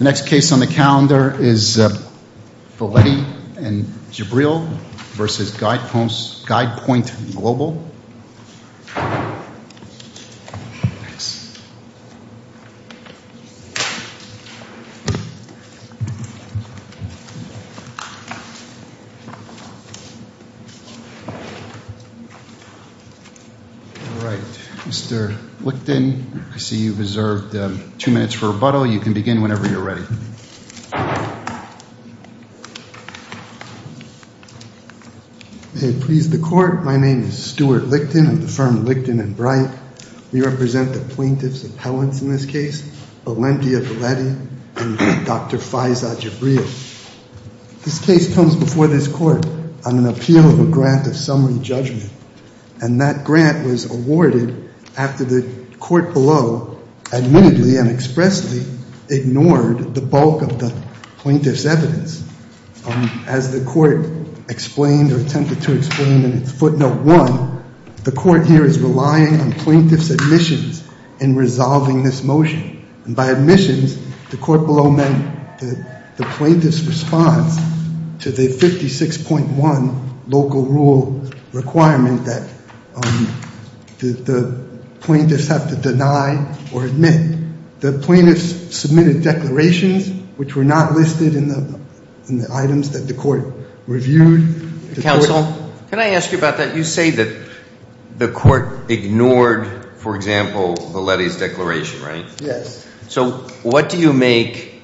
Next case on the calendar is Velletti and Jabril v. Guidepoint Global. Mr. Licton, I see you have reserved two minutes for rebuttal. You can begin whenever you are ready. May it please the Court, my name is Stuart Licton of the firm Licton and Bright. We represent the plaintiffs' appellants in this case, Valenti Velletti and Dr. Faiza Jabril. This case comes before this Court on an appeal of a grant of summary judgment, and that grant was awarded after the Court below admittedly and expressly ignored the bulk of the plaintiff's evidence. As the Court explained or attempted to explain in its footnote one, the Court here is relying on plaintiffs' admissions in resolving this motion. And by admissions, the Court below meant the plaintiff's response to the 56.1 local rule requirement that the plaintiffs have to deny or admit. The plaintiffs submitted declarations which were not listed in the items that the Court reviewed. Counsel, can I ask you about that? You say that the Court ignored, for example, Velletti's declaration, right? Yes. So what do you make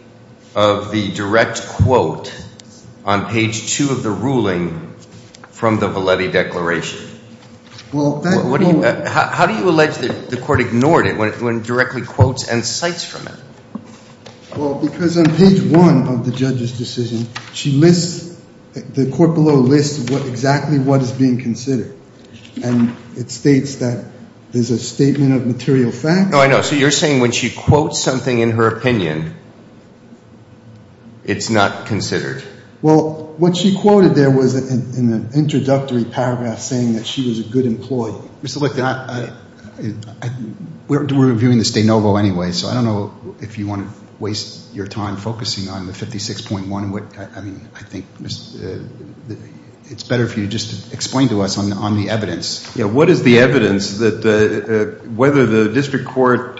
of the direct quote on page two of the ruling from the Velletti declaration? How do you allege that the Court ignored it when it directly quotes and cites from it? Well, because on page one of the judge's decision, the Court below lists exactly what is being considered. And it states that there's a statement of material facts. Oh, I know. So you're saying when she quotes something in her opinion, it's not considered. Well, what she quoted there was in the introductory paragraph saying that she was a good employee. Mr. Lichten, we're reviewing the Stanovo anyway, so I don't know if you want to waste your time focusing on the 56.1. I mean, I think it's better if you just explain to us on the evidence. Yeah, what is the evidence that whether the district court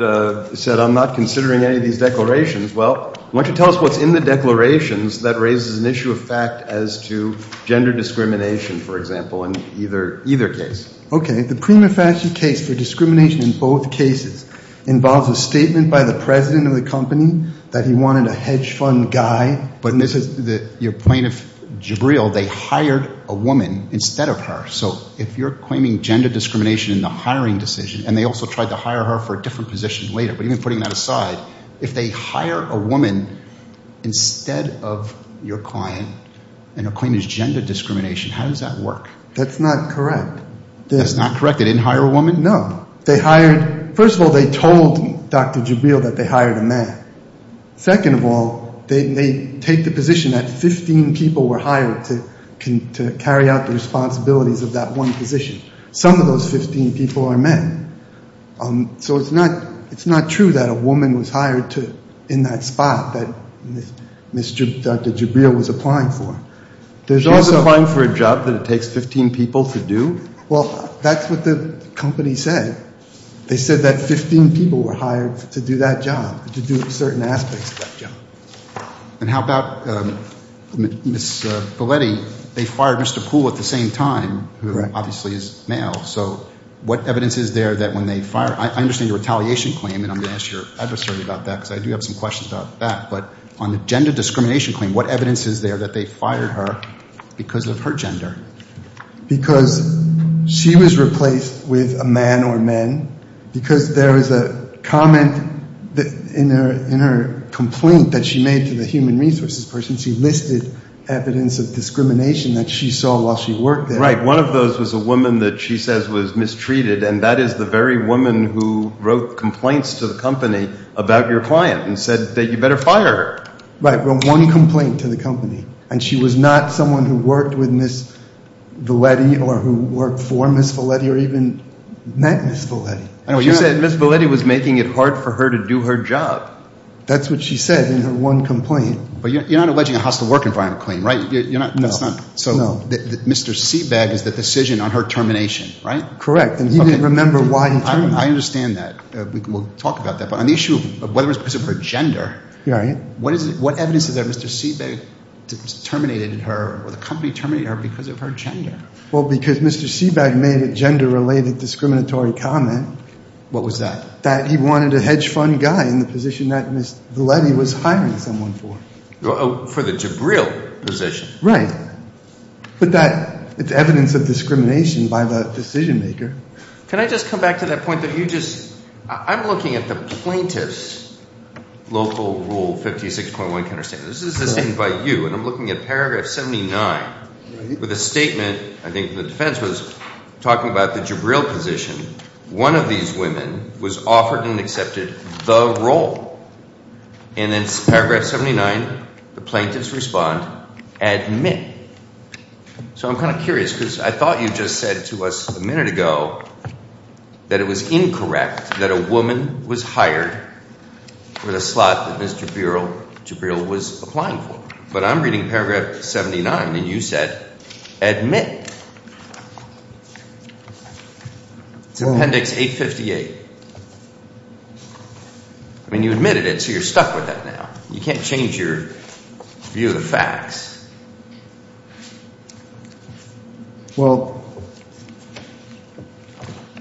said, I'm not considering any of these declarations. Well, why don't you tell us what's in the declarations that raises an issue of fact as to gender discrimination, for example, in either case. Okay. The prima facie case for discrimination in both cases involves a statement by the president of the company that he wanted a hedge fund guy. But this is your plaintiff, Jabril, they hired a woman instead of her. So if you're claiming gender discrimination in the hiring decision, and they also tried to hire her for a different position later. But even putting that aside, if they hire a woman instead of your client and are claiming gender discrimination, how does that work? That's not correct. That's not correct? They didn't hire a woman? No. They hired – first of all, they told Dr. Jabril that they hired a man. Second of all, they take the position that 15 people were hired to carry out the responsibilities of that one position. Some of those 15 people are men. So it's not true that a woman was hired in that spot that Dr. Jabril was applying for. She was applying for a job that it takes 15 people to do? Well, that's what the company said. They said that 15 people were hired to do that job, to do certain aspects of that job. And how about Ms. Belletti? They fired Mr. Poole at the same time, who obviously is male. So what evidence is there that when they fired – I understand your retaliation claim, and I'm going to ask your adversary about that because I do have some questions about that. But on the gender discrimination claim, what evidence is there that they fired her because of her gender? Because she was replaced with a man or men, because there is a comment in her complaint that she made to the human resources person. She listed evidence of discrimination that she saw while she worked there. Right. One of those was a woman that she says was mistreated, and that is the very woman who wrote complaints to the company about your client and said that you better fire her. Right. Well, one complaint to the company. And she was not someone who worked with Ms. Belletti or who worked for Ms. Belletti or even met Ms. Belletti. No, you said Ms. Belletti was making it hard for her to do her job. That's what she said in her one complaint. But you're not alleging a hostile work environment claim, right? No. So Mr. Seabag is the decision on her termination, right? Correct. And he didn't remember why he terminated her. I understand that. We'll talk about that. But on the issue of whether it was because of her gender, what evidence is there that Mr. Seabag terminated her or the company terminated her because of her gender? Well, because Mr. Seabag made a gender-related discriminatory comment. What was that? That he wanted a hedge fund guy in the position that Ms. Belletti was hiring someone for. For the Jabril position? Right. But that is evidence of discrimination by the decision maker. Can I just come back to that point that you just – I'm looking at the plaintiff's local Rule 56.1 counterstatement. This is the same by you, and I'm looking at paragraph 79 with a statement – I think the defense was talking about the Jabril position. One of these women was offered and accepted the role. And in paragraph 79, the plaintiffs respond, admit. So I'm kind of curious because I thought you just said to us a minute ago that it was incorrect that a woman was hired for the slot that Ms. Jabril was applying for. But I'm reading paragraph 79, and you said admit. It's Appendix 858. I mean, you admitted it, so you're stuck with that now. Well,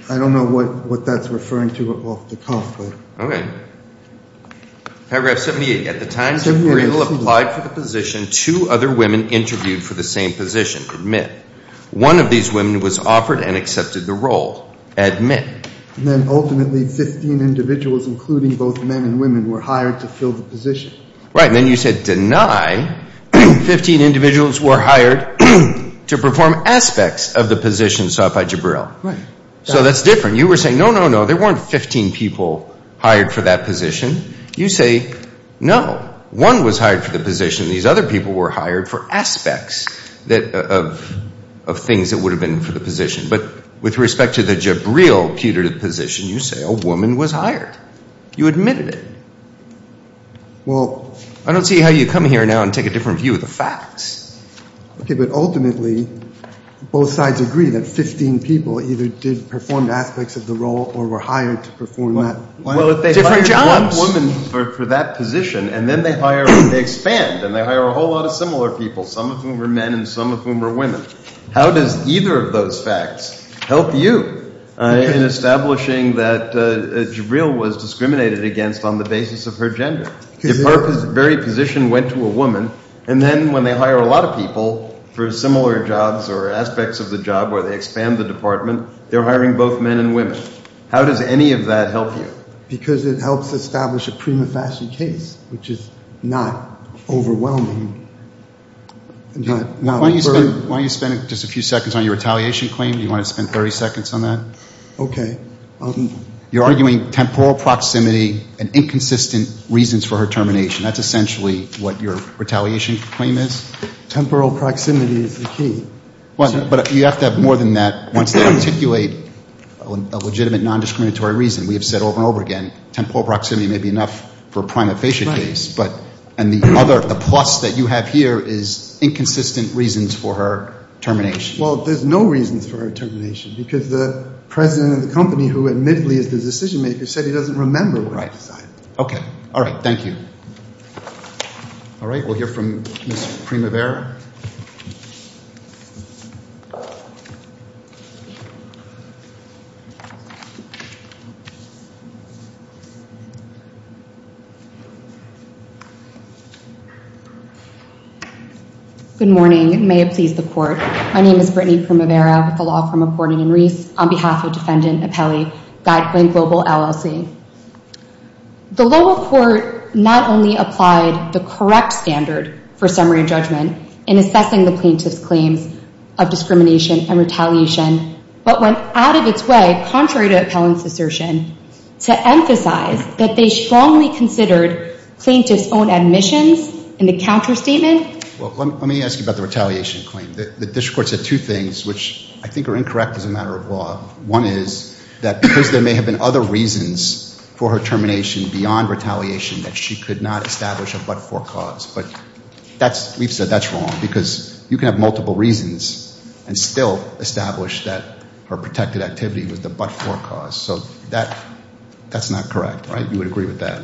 I don't know what that's referring to off the cuff, but – Okay. Paragraph 78. At the time Jabril applied for the position, two other women interviewed for the same position. Admit. One of these women was offered and accepted the role. Admit. Then ultimately 15 individuals, including both men and women, were hired to fill the position. Right. And then you said deny 15 individuals were hired to perform aspects of the position sought by Jabril. Right. So that's different. You were saying, no, no, no, there weren't 15 people hired for that position. You say, no, one was hired for the position. These other people were hired for aspects of things that would have been for the position. But with respect to the Jabril putative position, you say a woman was hired. You admitted it. Well – I don't see how you come here now and take a different view of the facts. Okay, but ultimately both sides agree that 15 people either did perform aspects of the role or were hired to perform that. Well, if they hired one woman for that position and then they hire – they expand and they hire a whole lot of similar people, some of whom are men and some of whom are women, how does either of those facts help you in establishing that Jabril was discriminated against on the basis of her gender? If her very position went to a woman and then when they hire a lot of people for similar jobs or aspects of the job where they expand the department, they're hiring both men and women. How does any of that help you? Because it helps establish a prima facie case, which is not overwhelming. Why don't you spend just a few seconds on your retaliation claim? Do you want to spend 30 seconds on that? Okay. You're arguing temporal proximity and inconsistent reasons for her termination. That's essentially what your retaliation claim is? Temporal proximity is the key. But you have to have more than that. Once they articulate a legitimate nondiscriminatory reason, we have said over and over again, temporal proximity may be enough for a prima facie case. The plus that you have here is inconsistent reasons for her termination. Well, there's no reasons for her termination because the president of the company, who admittedly is the decision-maker, said he doesn't remember what he decided. Okay. All right. Thank you. All right. We'll hear from Ms. Primavera. Good morning. May it please the court. My name is Brittany Primavera with the Law Firm of Gordon and Reese on behalf of Defendant Appellee Guideline Global, LLC. The lower court not only applied the correct standard for summary judgment in assessing the plaintiff's claims of discrimination and retaliation, but went out of its way, contrary to appellant's assertion, to emphasize that they strongly considered plaintiff's own admissions in the counterstatement. Well, let me ask you about the retaliation claim. The district court said two things, which I think are incorrect as a matter of law. One is that because there may have been other reasons for her termination beyond retaliation that she could not establish a but-for cause. But we've said that's wrong because you can have multiple reasons and still establish that her protected activity was the but-for cause. So that's not correct, right? You would agree with that?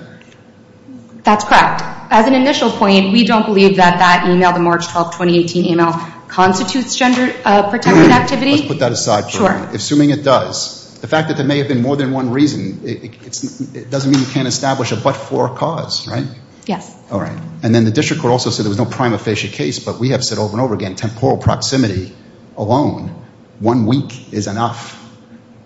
That's correct. As an initial point, we don't believe that that email, the March 12, 2018 email, constitutes gender-protected activity. Let's put that aside for a minute. Sure. Assuming it does. The fact that there may have been more than one reason, it doesn't mean you can't establish a but-for cause, right? Yes. All right. And then the district court also said there was no prima facie case, but we have said over and over again, temporal proximity alone, one week is enough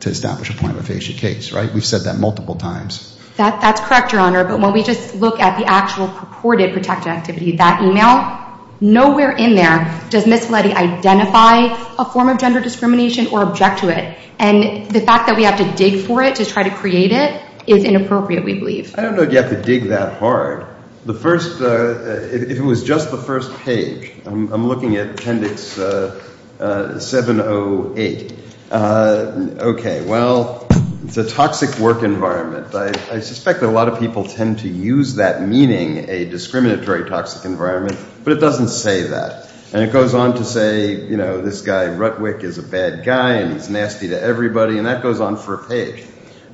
to establish a prima facie case, right? We've said that multiple times. That's correct, Your Honor. But when we just look at the actual purported protected activity, that email, nowhere in there does Ms. Valetti identify a form of gender discrimination or object to it. And the fact that we have to dig for it to try to create it is inappropriate, we believe. I don't know that you have to dig that hard. The first, if it was just the first page, I'm looking at appendix 708. Okay. Well, it's a toxic work environment. I suspect that a lot of people tend to use that meaning, a discriminatory toxic environment, but it doesn't say that. And it goes on to say, you know, this guy, Rutwick, is a bad guy and he's nasty to everybody, and that goes on for a page.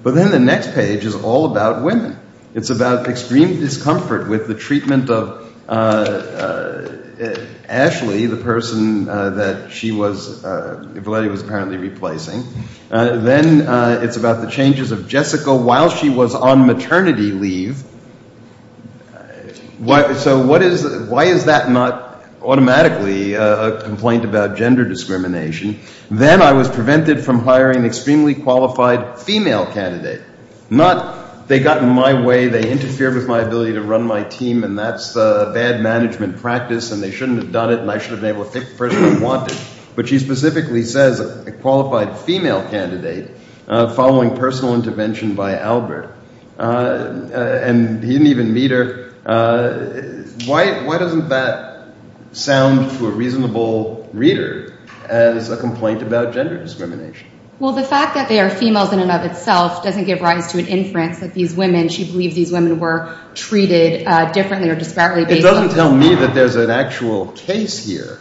But then the next page is all about women. It's about extreme discomfort with the treatment of Ashley, the person that she was, Valetti was apparently replacing. Then it's about the changes of Jessica while she was on maternity leave. So why is that not automatically a complaint about gender discrimination? Then I was prevented from hiring an extremely qualified female candidate. Not they got in my way, they interfered with my ability to run my team, and that's bad management practice, and they shouldn't have done it, and I should have been able to pick the person I wanted. But she specifically says a qualified female candidate following personal intervention by Albert. And he didn't even meet her. Why doesn't that sound to a reasonable reader as a complaint about gender discrimination? Well, the fact that they are females in and of itself doesn't give rise to an inference that these women, she believes these women were treated differently or disparately based on… It doesn't tell me that there's an actual case here,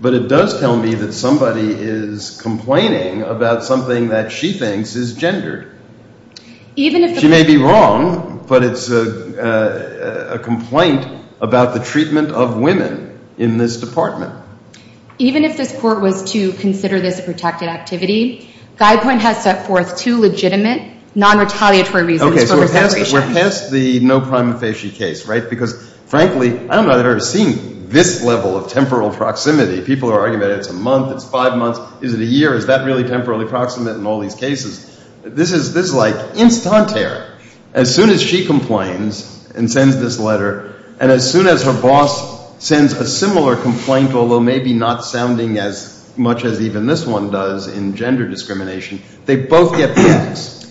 but it does tell me that somebody is complaining about something that she thinks is gendered. She may be wrong, but it's a complaint about the treatment of women in this department. Even if this court was to consider this a protected activity, Guidepoint has set forth two legitimate non-retaliatory reasons for her separation. We're past the no prima facie case, right? Because frankly, I don't know that I've ever seen this level of temporal proximity. People are arguing about it. It's a month. It's five months. Is it a year? Is that really temporally proximate in all these cases? This is like instantaneous. As soon as she complains and sends this letter, and as soon as her boss sends a similar complaint, although maybe not sounding as much as even this one does in gender discrimination, they both get picked.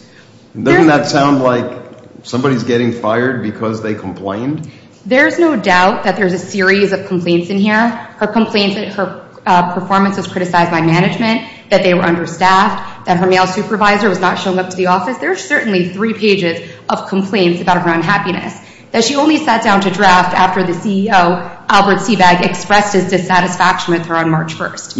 Doesn't that sound like somebody's getting fired because they complained? There's no doubt that there's a series of complaints in here. Her complaints that her performance was criticized by management, that they were understaffed, that her male supervisor was not showing up to the office. There are certainly three pages of complaints about her unhappiness that she only sat down to draft after the CEO, Albert Seabag, expressed his dissatisfaction with her on March 1st.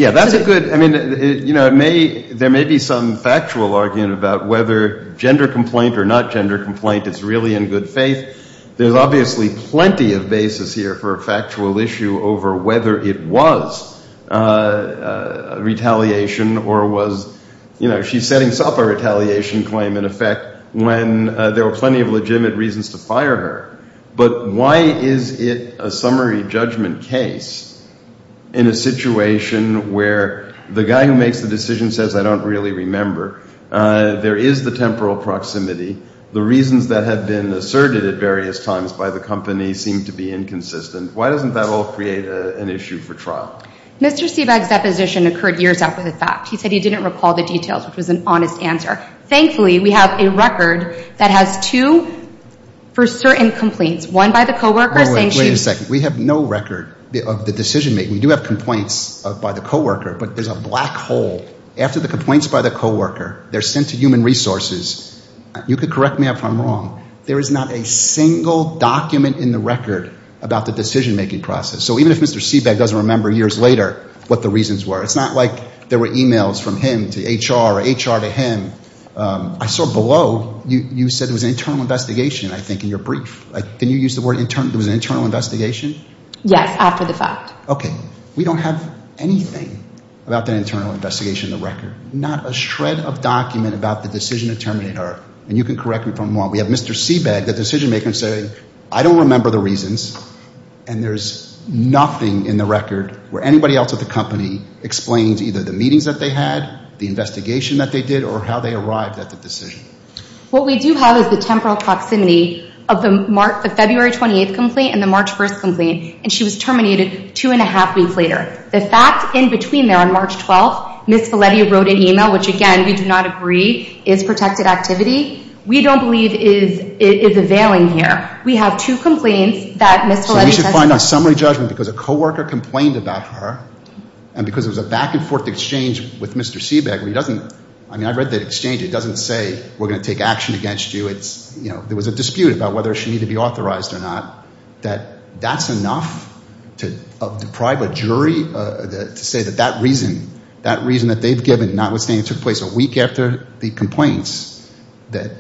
There may be some factual argument about whether gender complaint or not gender complaint is really in good faith. There's obviously plenty of basis here for a factual issue over whether it was retaliation or was she setting up a retaliation claim in effect when there were plenty of legitimate reasons to fire her. But why is it a summary judgment case in a situation where the guy who makes the decision says, I don't really remember, there is the temporal proximity, the reasons that have been asserted at various times by the company seem to be inconsistent. Why doesn't that all create an issue for trial? Mr. Seabag's deposition occurred years after the fact. He said he didn't recall the details, which was an honest answer. Thankfully, we have a record that has two for certain complaints, one by the co-workers and she... Wait a second. We have no record of the decision-making. We do have complaints by the co-worker, but there's a black hole. After the complaints by the co-worker, they're sent to human resources. You could correct me if I'm wrong. There is not a single document in the record about the decision-making process. So even if Mr. Seabag doesn't remember years later what the reasons were, it's not like there were emails from him to HR or HR to him. I saw below, you said it was an internal investigation, I think, in your brief. Can you use the word internal? It was an internal investigation? Yes, after the fact. Okay. We don't have anything about that internal investigation in the record. Not a shred of document about the decision to terminate her. And you can correct me if I'm wrong. We have Mr. Seabag, the decision-maker, saying, I don't remember the reasons. And there's nothing in the record where anybody else at the company explains either the meetings that they had, the investigation that they did, or how they arrived at the decision. What we do have is the temporal proximity of the February 28th complaint and the March 1st complaint, and she was terminated two and a half weeks later. The fact in between there on March 12th, Ms. Valetti wrote an email, which, again, we do not agree is protected activity, we don't believe is availing here. We have two complaints that Ms. Valetti sent to us. So we should find a summary judgment because a co-worker complained about her and because it was a back-and-forth exchange with Mr. Seabag where he doesn't, I mean, I read that exchange, it doesn't say we're going to take action against you. It's, you know, there was a dispute about whether she needed to be authorized or not, that that's enough to deprive a jury to say that that reason, that reason that they've given, notwithstanding it took place a week after the complaints, that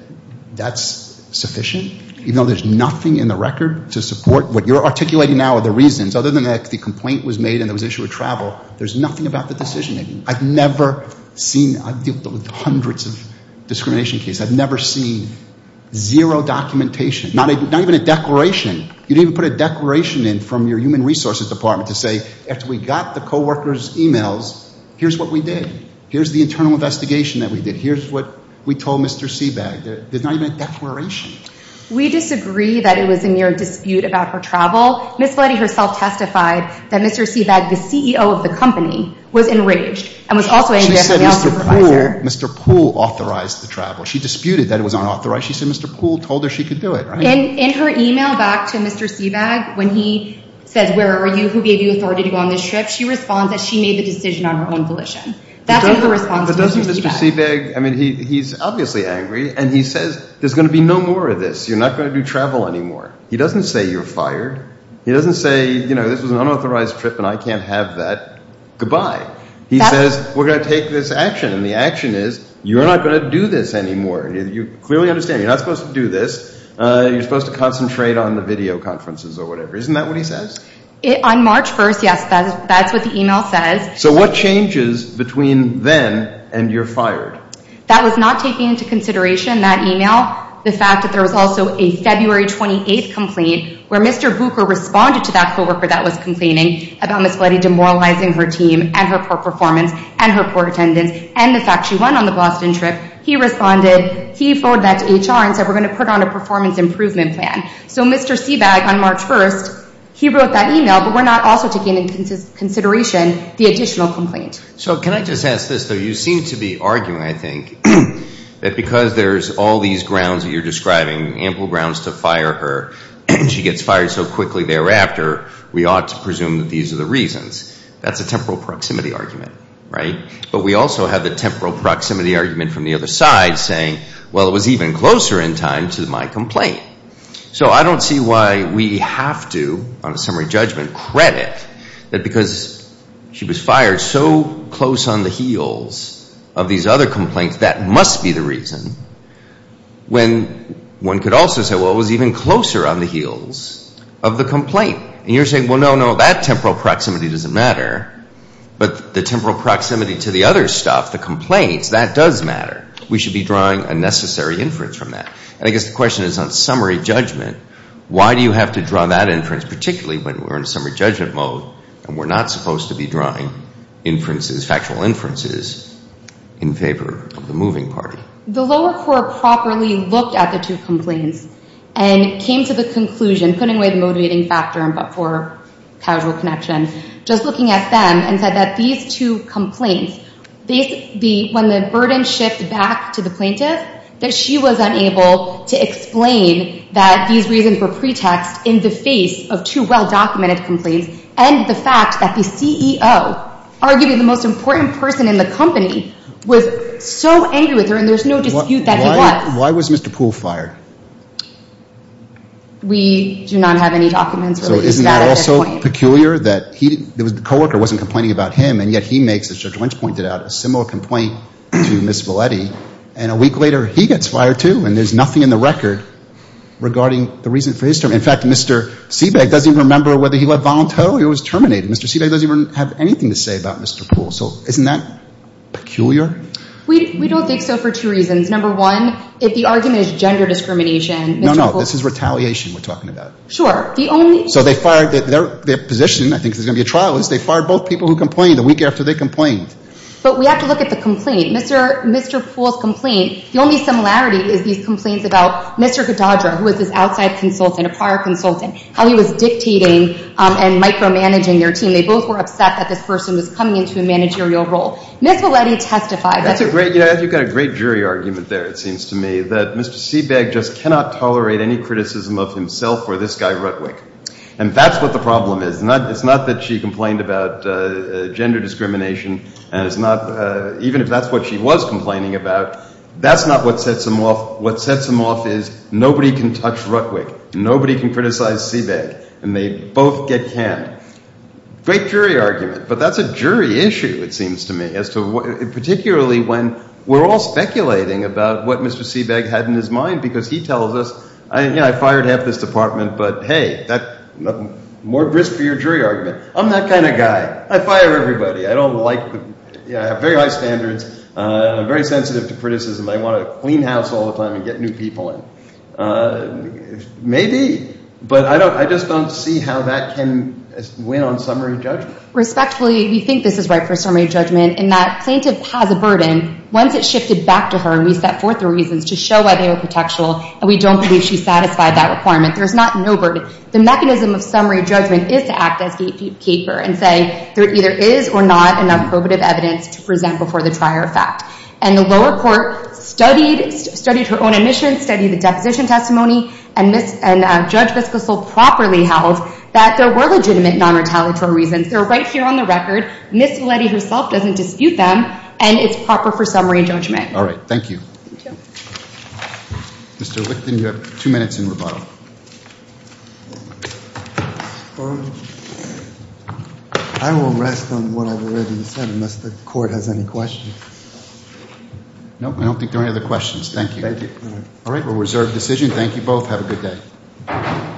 that's sufficient? Even though there's nothing in the record to support what you're articulating now are the reasons, other than that the complaint was made and there was issue with travel, there's nothing about the decision-making. I've never seen, I've dealt with hundreds of discrimination cases, I've never seen zero documentation, not even a declaration. You didn't even put a declaration in from your human resources department to say, after we got the co-worker's emails, here's what we did. Here's the internal investigation that we did. Here's what we told Mr. Seabag. There's not even a declaration. We disagree that it was a mere dispute about her travel. Ms. Fletty herself testified that Mr. Seabag, the CEO of the company, was enraged and was also angry at the mail supervisor. She said Mr. Poole authorized the travel. She disputed that it was unauthorized. She said Mr. Poole told her she could do it, right? In her email back to Mr. Seabag when he says, where are you, who gave you authority to go on this trip, she responds that she made the decision on her own volition. But doesn't Mr. Seabag, he's obviously angry, and he says there's going to be no more of this. You're not going to do travel anymore. He doesn't say you're fired. He doesn't say this was an unauthorized trip and I can't have that. Goodbye. He says we're going to take this action, and the action is you're not going to do this anymore. You clearly understand you're not supposed to do this. You're supposed to concentrate on the video conferences or whatever. Isn't that what he says? On March 1st, yes, that's what the email says. So what changes between then and you're fired? That was not taken into consideration, that email. The fact that there was also a February 28th complaint where Mr. Booker responded to that co-worker that was complaining about Ms. Floody demoralizing her team and her poor performance and her poor attendance and the fact she went on the Boston trip. He responded, he forwarded that to HR and said we're going to put on a performance improvement plan. So Mr. Seabag on March 1st, he wrote that email, but we're not also taking into consideration the additional complaint. So can I just ask this, though? You seem to be arguing, I think, that because there's all these grounds that you're describing, ample grounds to fire her, and she gets fired so quickly thereafter, we ought to presume that these are the reasons. That's a temporal proximity argument, right? But we also have the temporal proximity argument from the other side saying, well, it was even closer in time to my complaint. So I don't see why we have to, on a summary judgment, credit that because she was fired so close on the heels of these other complaints, that must be the reason when one could also say, well, it was even closer on the heels of the complaint. And you're saying, well, no, no, that temporal proximity doesn't matter, but the temporal proximity to the other stuff, the complaints, that does matter. We should be drawing a necessary inference from that. And I guess the question is, on summary judgment, why do you have to draw that inference, particularly when we're in summary judgment mode and we're not supposed to be drawing inferences, factual inferences, in favor of the moving party? The lower court properly looked at the two complaints and came to the conclusion, putting away the motivating factor but for casual connection, just looking at them and said that these two complaints, when the burden shifted back to the plaintiff, that she was unable to explain that these reasons were pretext in the face of two well-documented complaints and the fact that the CEO, arguably the most important person in the company, was so angry with her and there's no dispute that he was. Why was Mr. Poole fired? We do not have any documents relating to that at this point. So isn't it also peculiar that the co-worker wasn't complaining about him and yet he makes, as Judge Lynch pointed out, a similar complaint to Ms. Valetti, and a week later he gets fired too and there's nothing in the record regarding the reason for his term. In fact, Mr. Siebeck doesn't even remember whether he left voluntarily or was terminated. Mr. Siebeck doesn't even have anything to say about Mr. Poole. So isn't that peculiar? We don't think so for two reasons. Number one, if the argument is gender discrimination, Mr. Poole... No, no, this is retaliation we're talking about. Sure. The only... So they fired, their position, I think there's going to be a trial, is they fired both people who complained the week after they complained. But we have to look at the complaint. Mr. Poole's complaint, the only similarity is these complaints about Mr. Goddard, who was this outside consultant, a prior consultant, how he was dictating and micromanaging their team. They both were upset that this person was coming into a managerial role. Ms. Valetti testified that... You've got a great jury argument there, it seems to me, that Mr. Siebeck just cannot tolerate any criticism of himself or this guy, Rutwick. And that's what the problem is. It's not that she complained about gender discrimination, and it's not... Even if that's what she was complaining about, that's not what sets them off. What sets them off is nobody can touch Rutwick. Nobody can criticize Siebeck. And they both get canned. Great jury argument, but that's a jury issue, it seems to me, as to what... Particularly when we're all speculating about what Mr. Siebeck had in his mind, because he tells us, you know, I fired half this department, but, hey, more risk for your jury argument. I'm that kind of guy. I fire everybody. I don't like... I have very high standards. I'm very sensitive to criticism. I want to clean house all the time and get new people in. Maybe, but I just don't see how that can win on summary judgment. Respectfully, we think this is right for summary judgment in that plaintiff has a burden. Once it's shifted back to her and we set forth the reasons to show why they were contextual, and we don't believe she satisfied that requirement, there's not no burden. The mechanism of summary judgment is to act as gatekeeper and say there either is or not enough probative evidence to present before the trier of fact. And the lower court studied her own admission, studied the deposition testimony, and Judge Viscosol properly held that there were legitimate non-retaliatory reasons. They're right here on the record. Ms. Valetti herself doesn't dispute them, and it's proper for summary judgment. All right. Thank you. Thank you. Mr. Wickton, you have two minutes in rebuttal. I will rest on what I've already said unless the court has any questions. No, I don't think there are any other questions. Thank you. Thank you. All right. We'll reserve decision. Thank you both. Have a good day.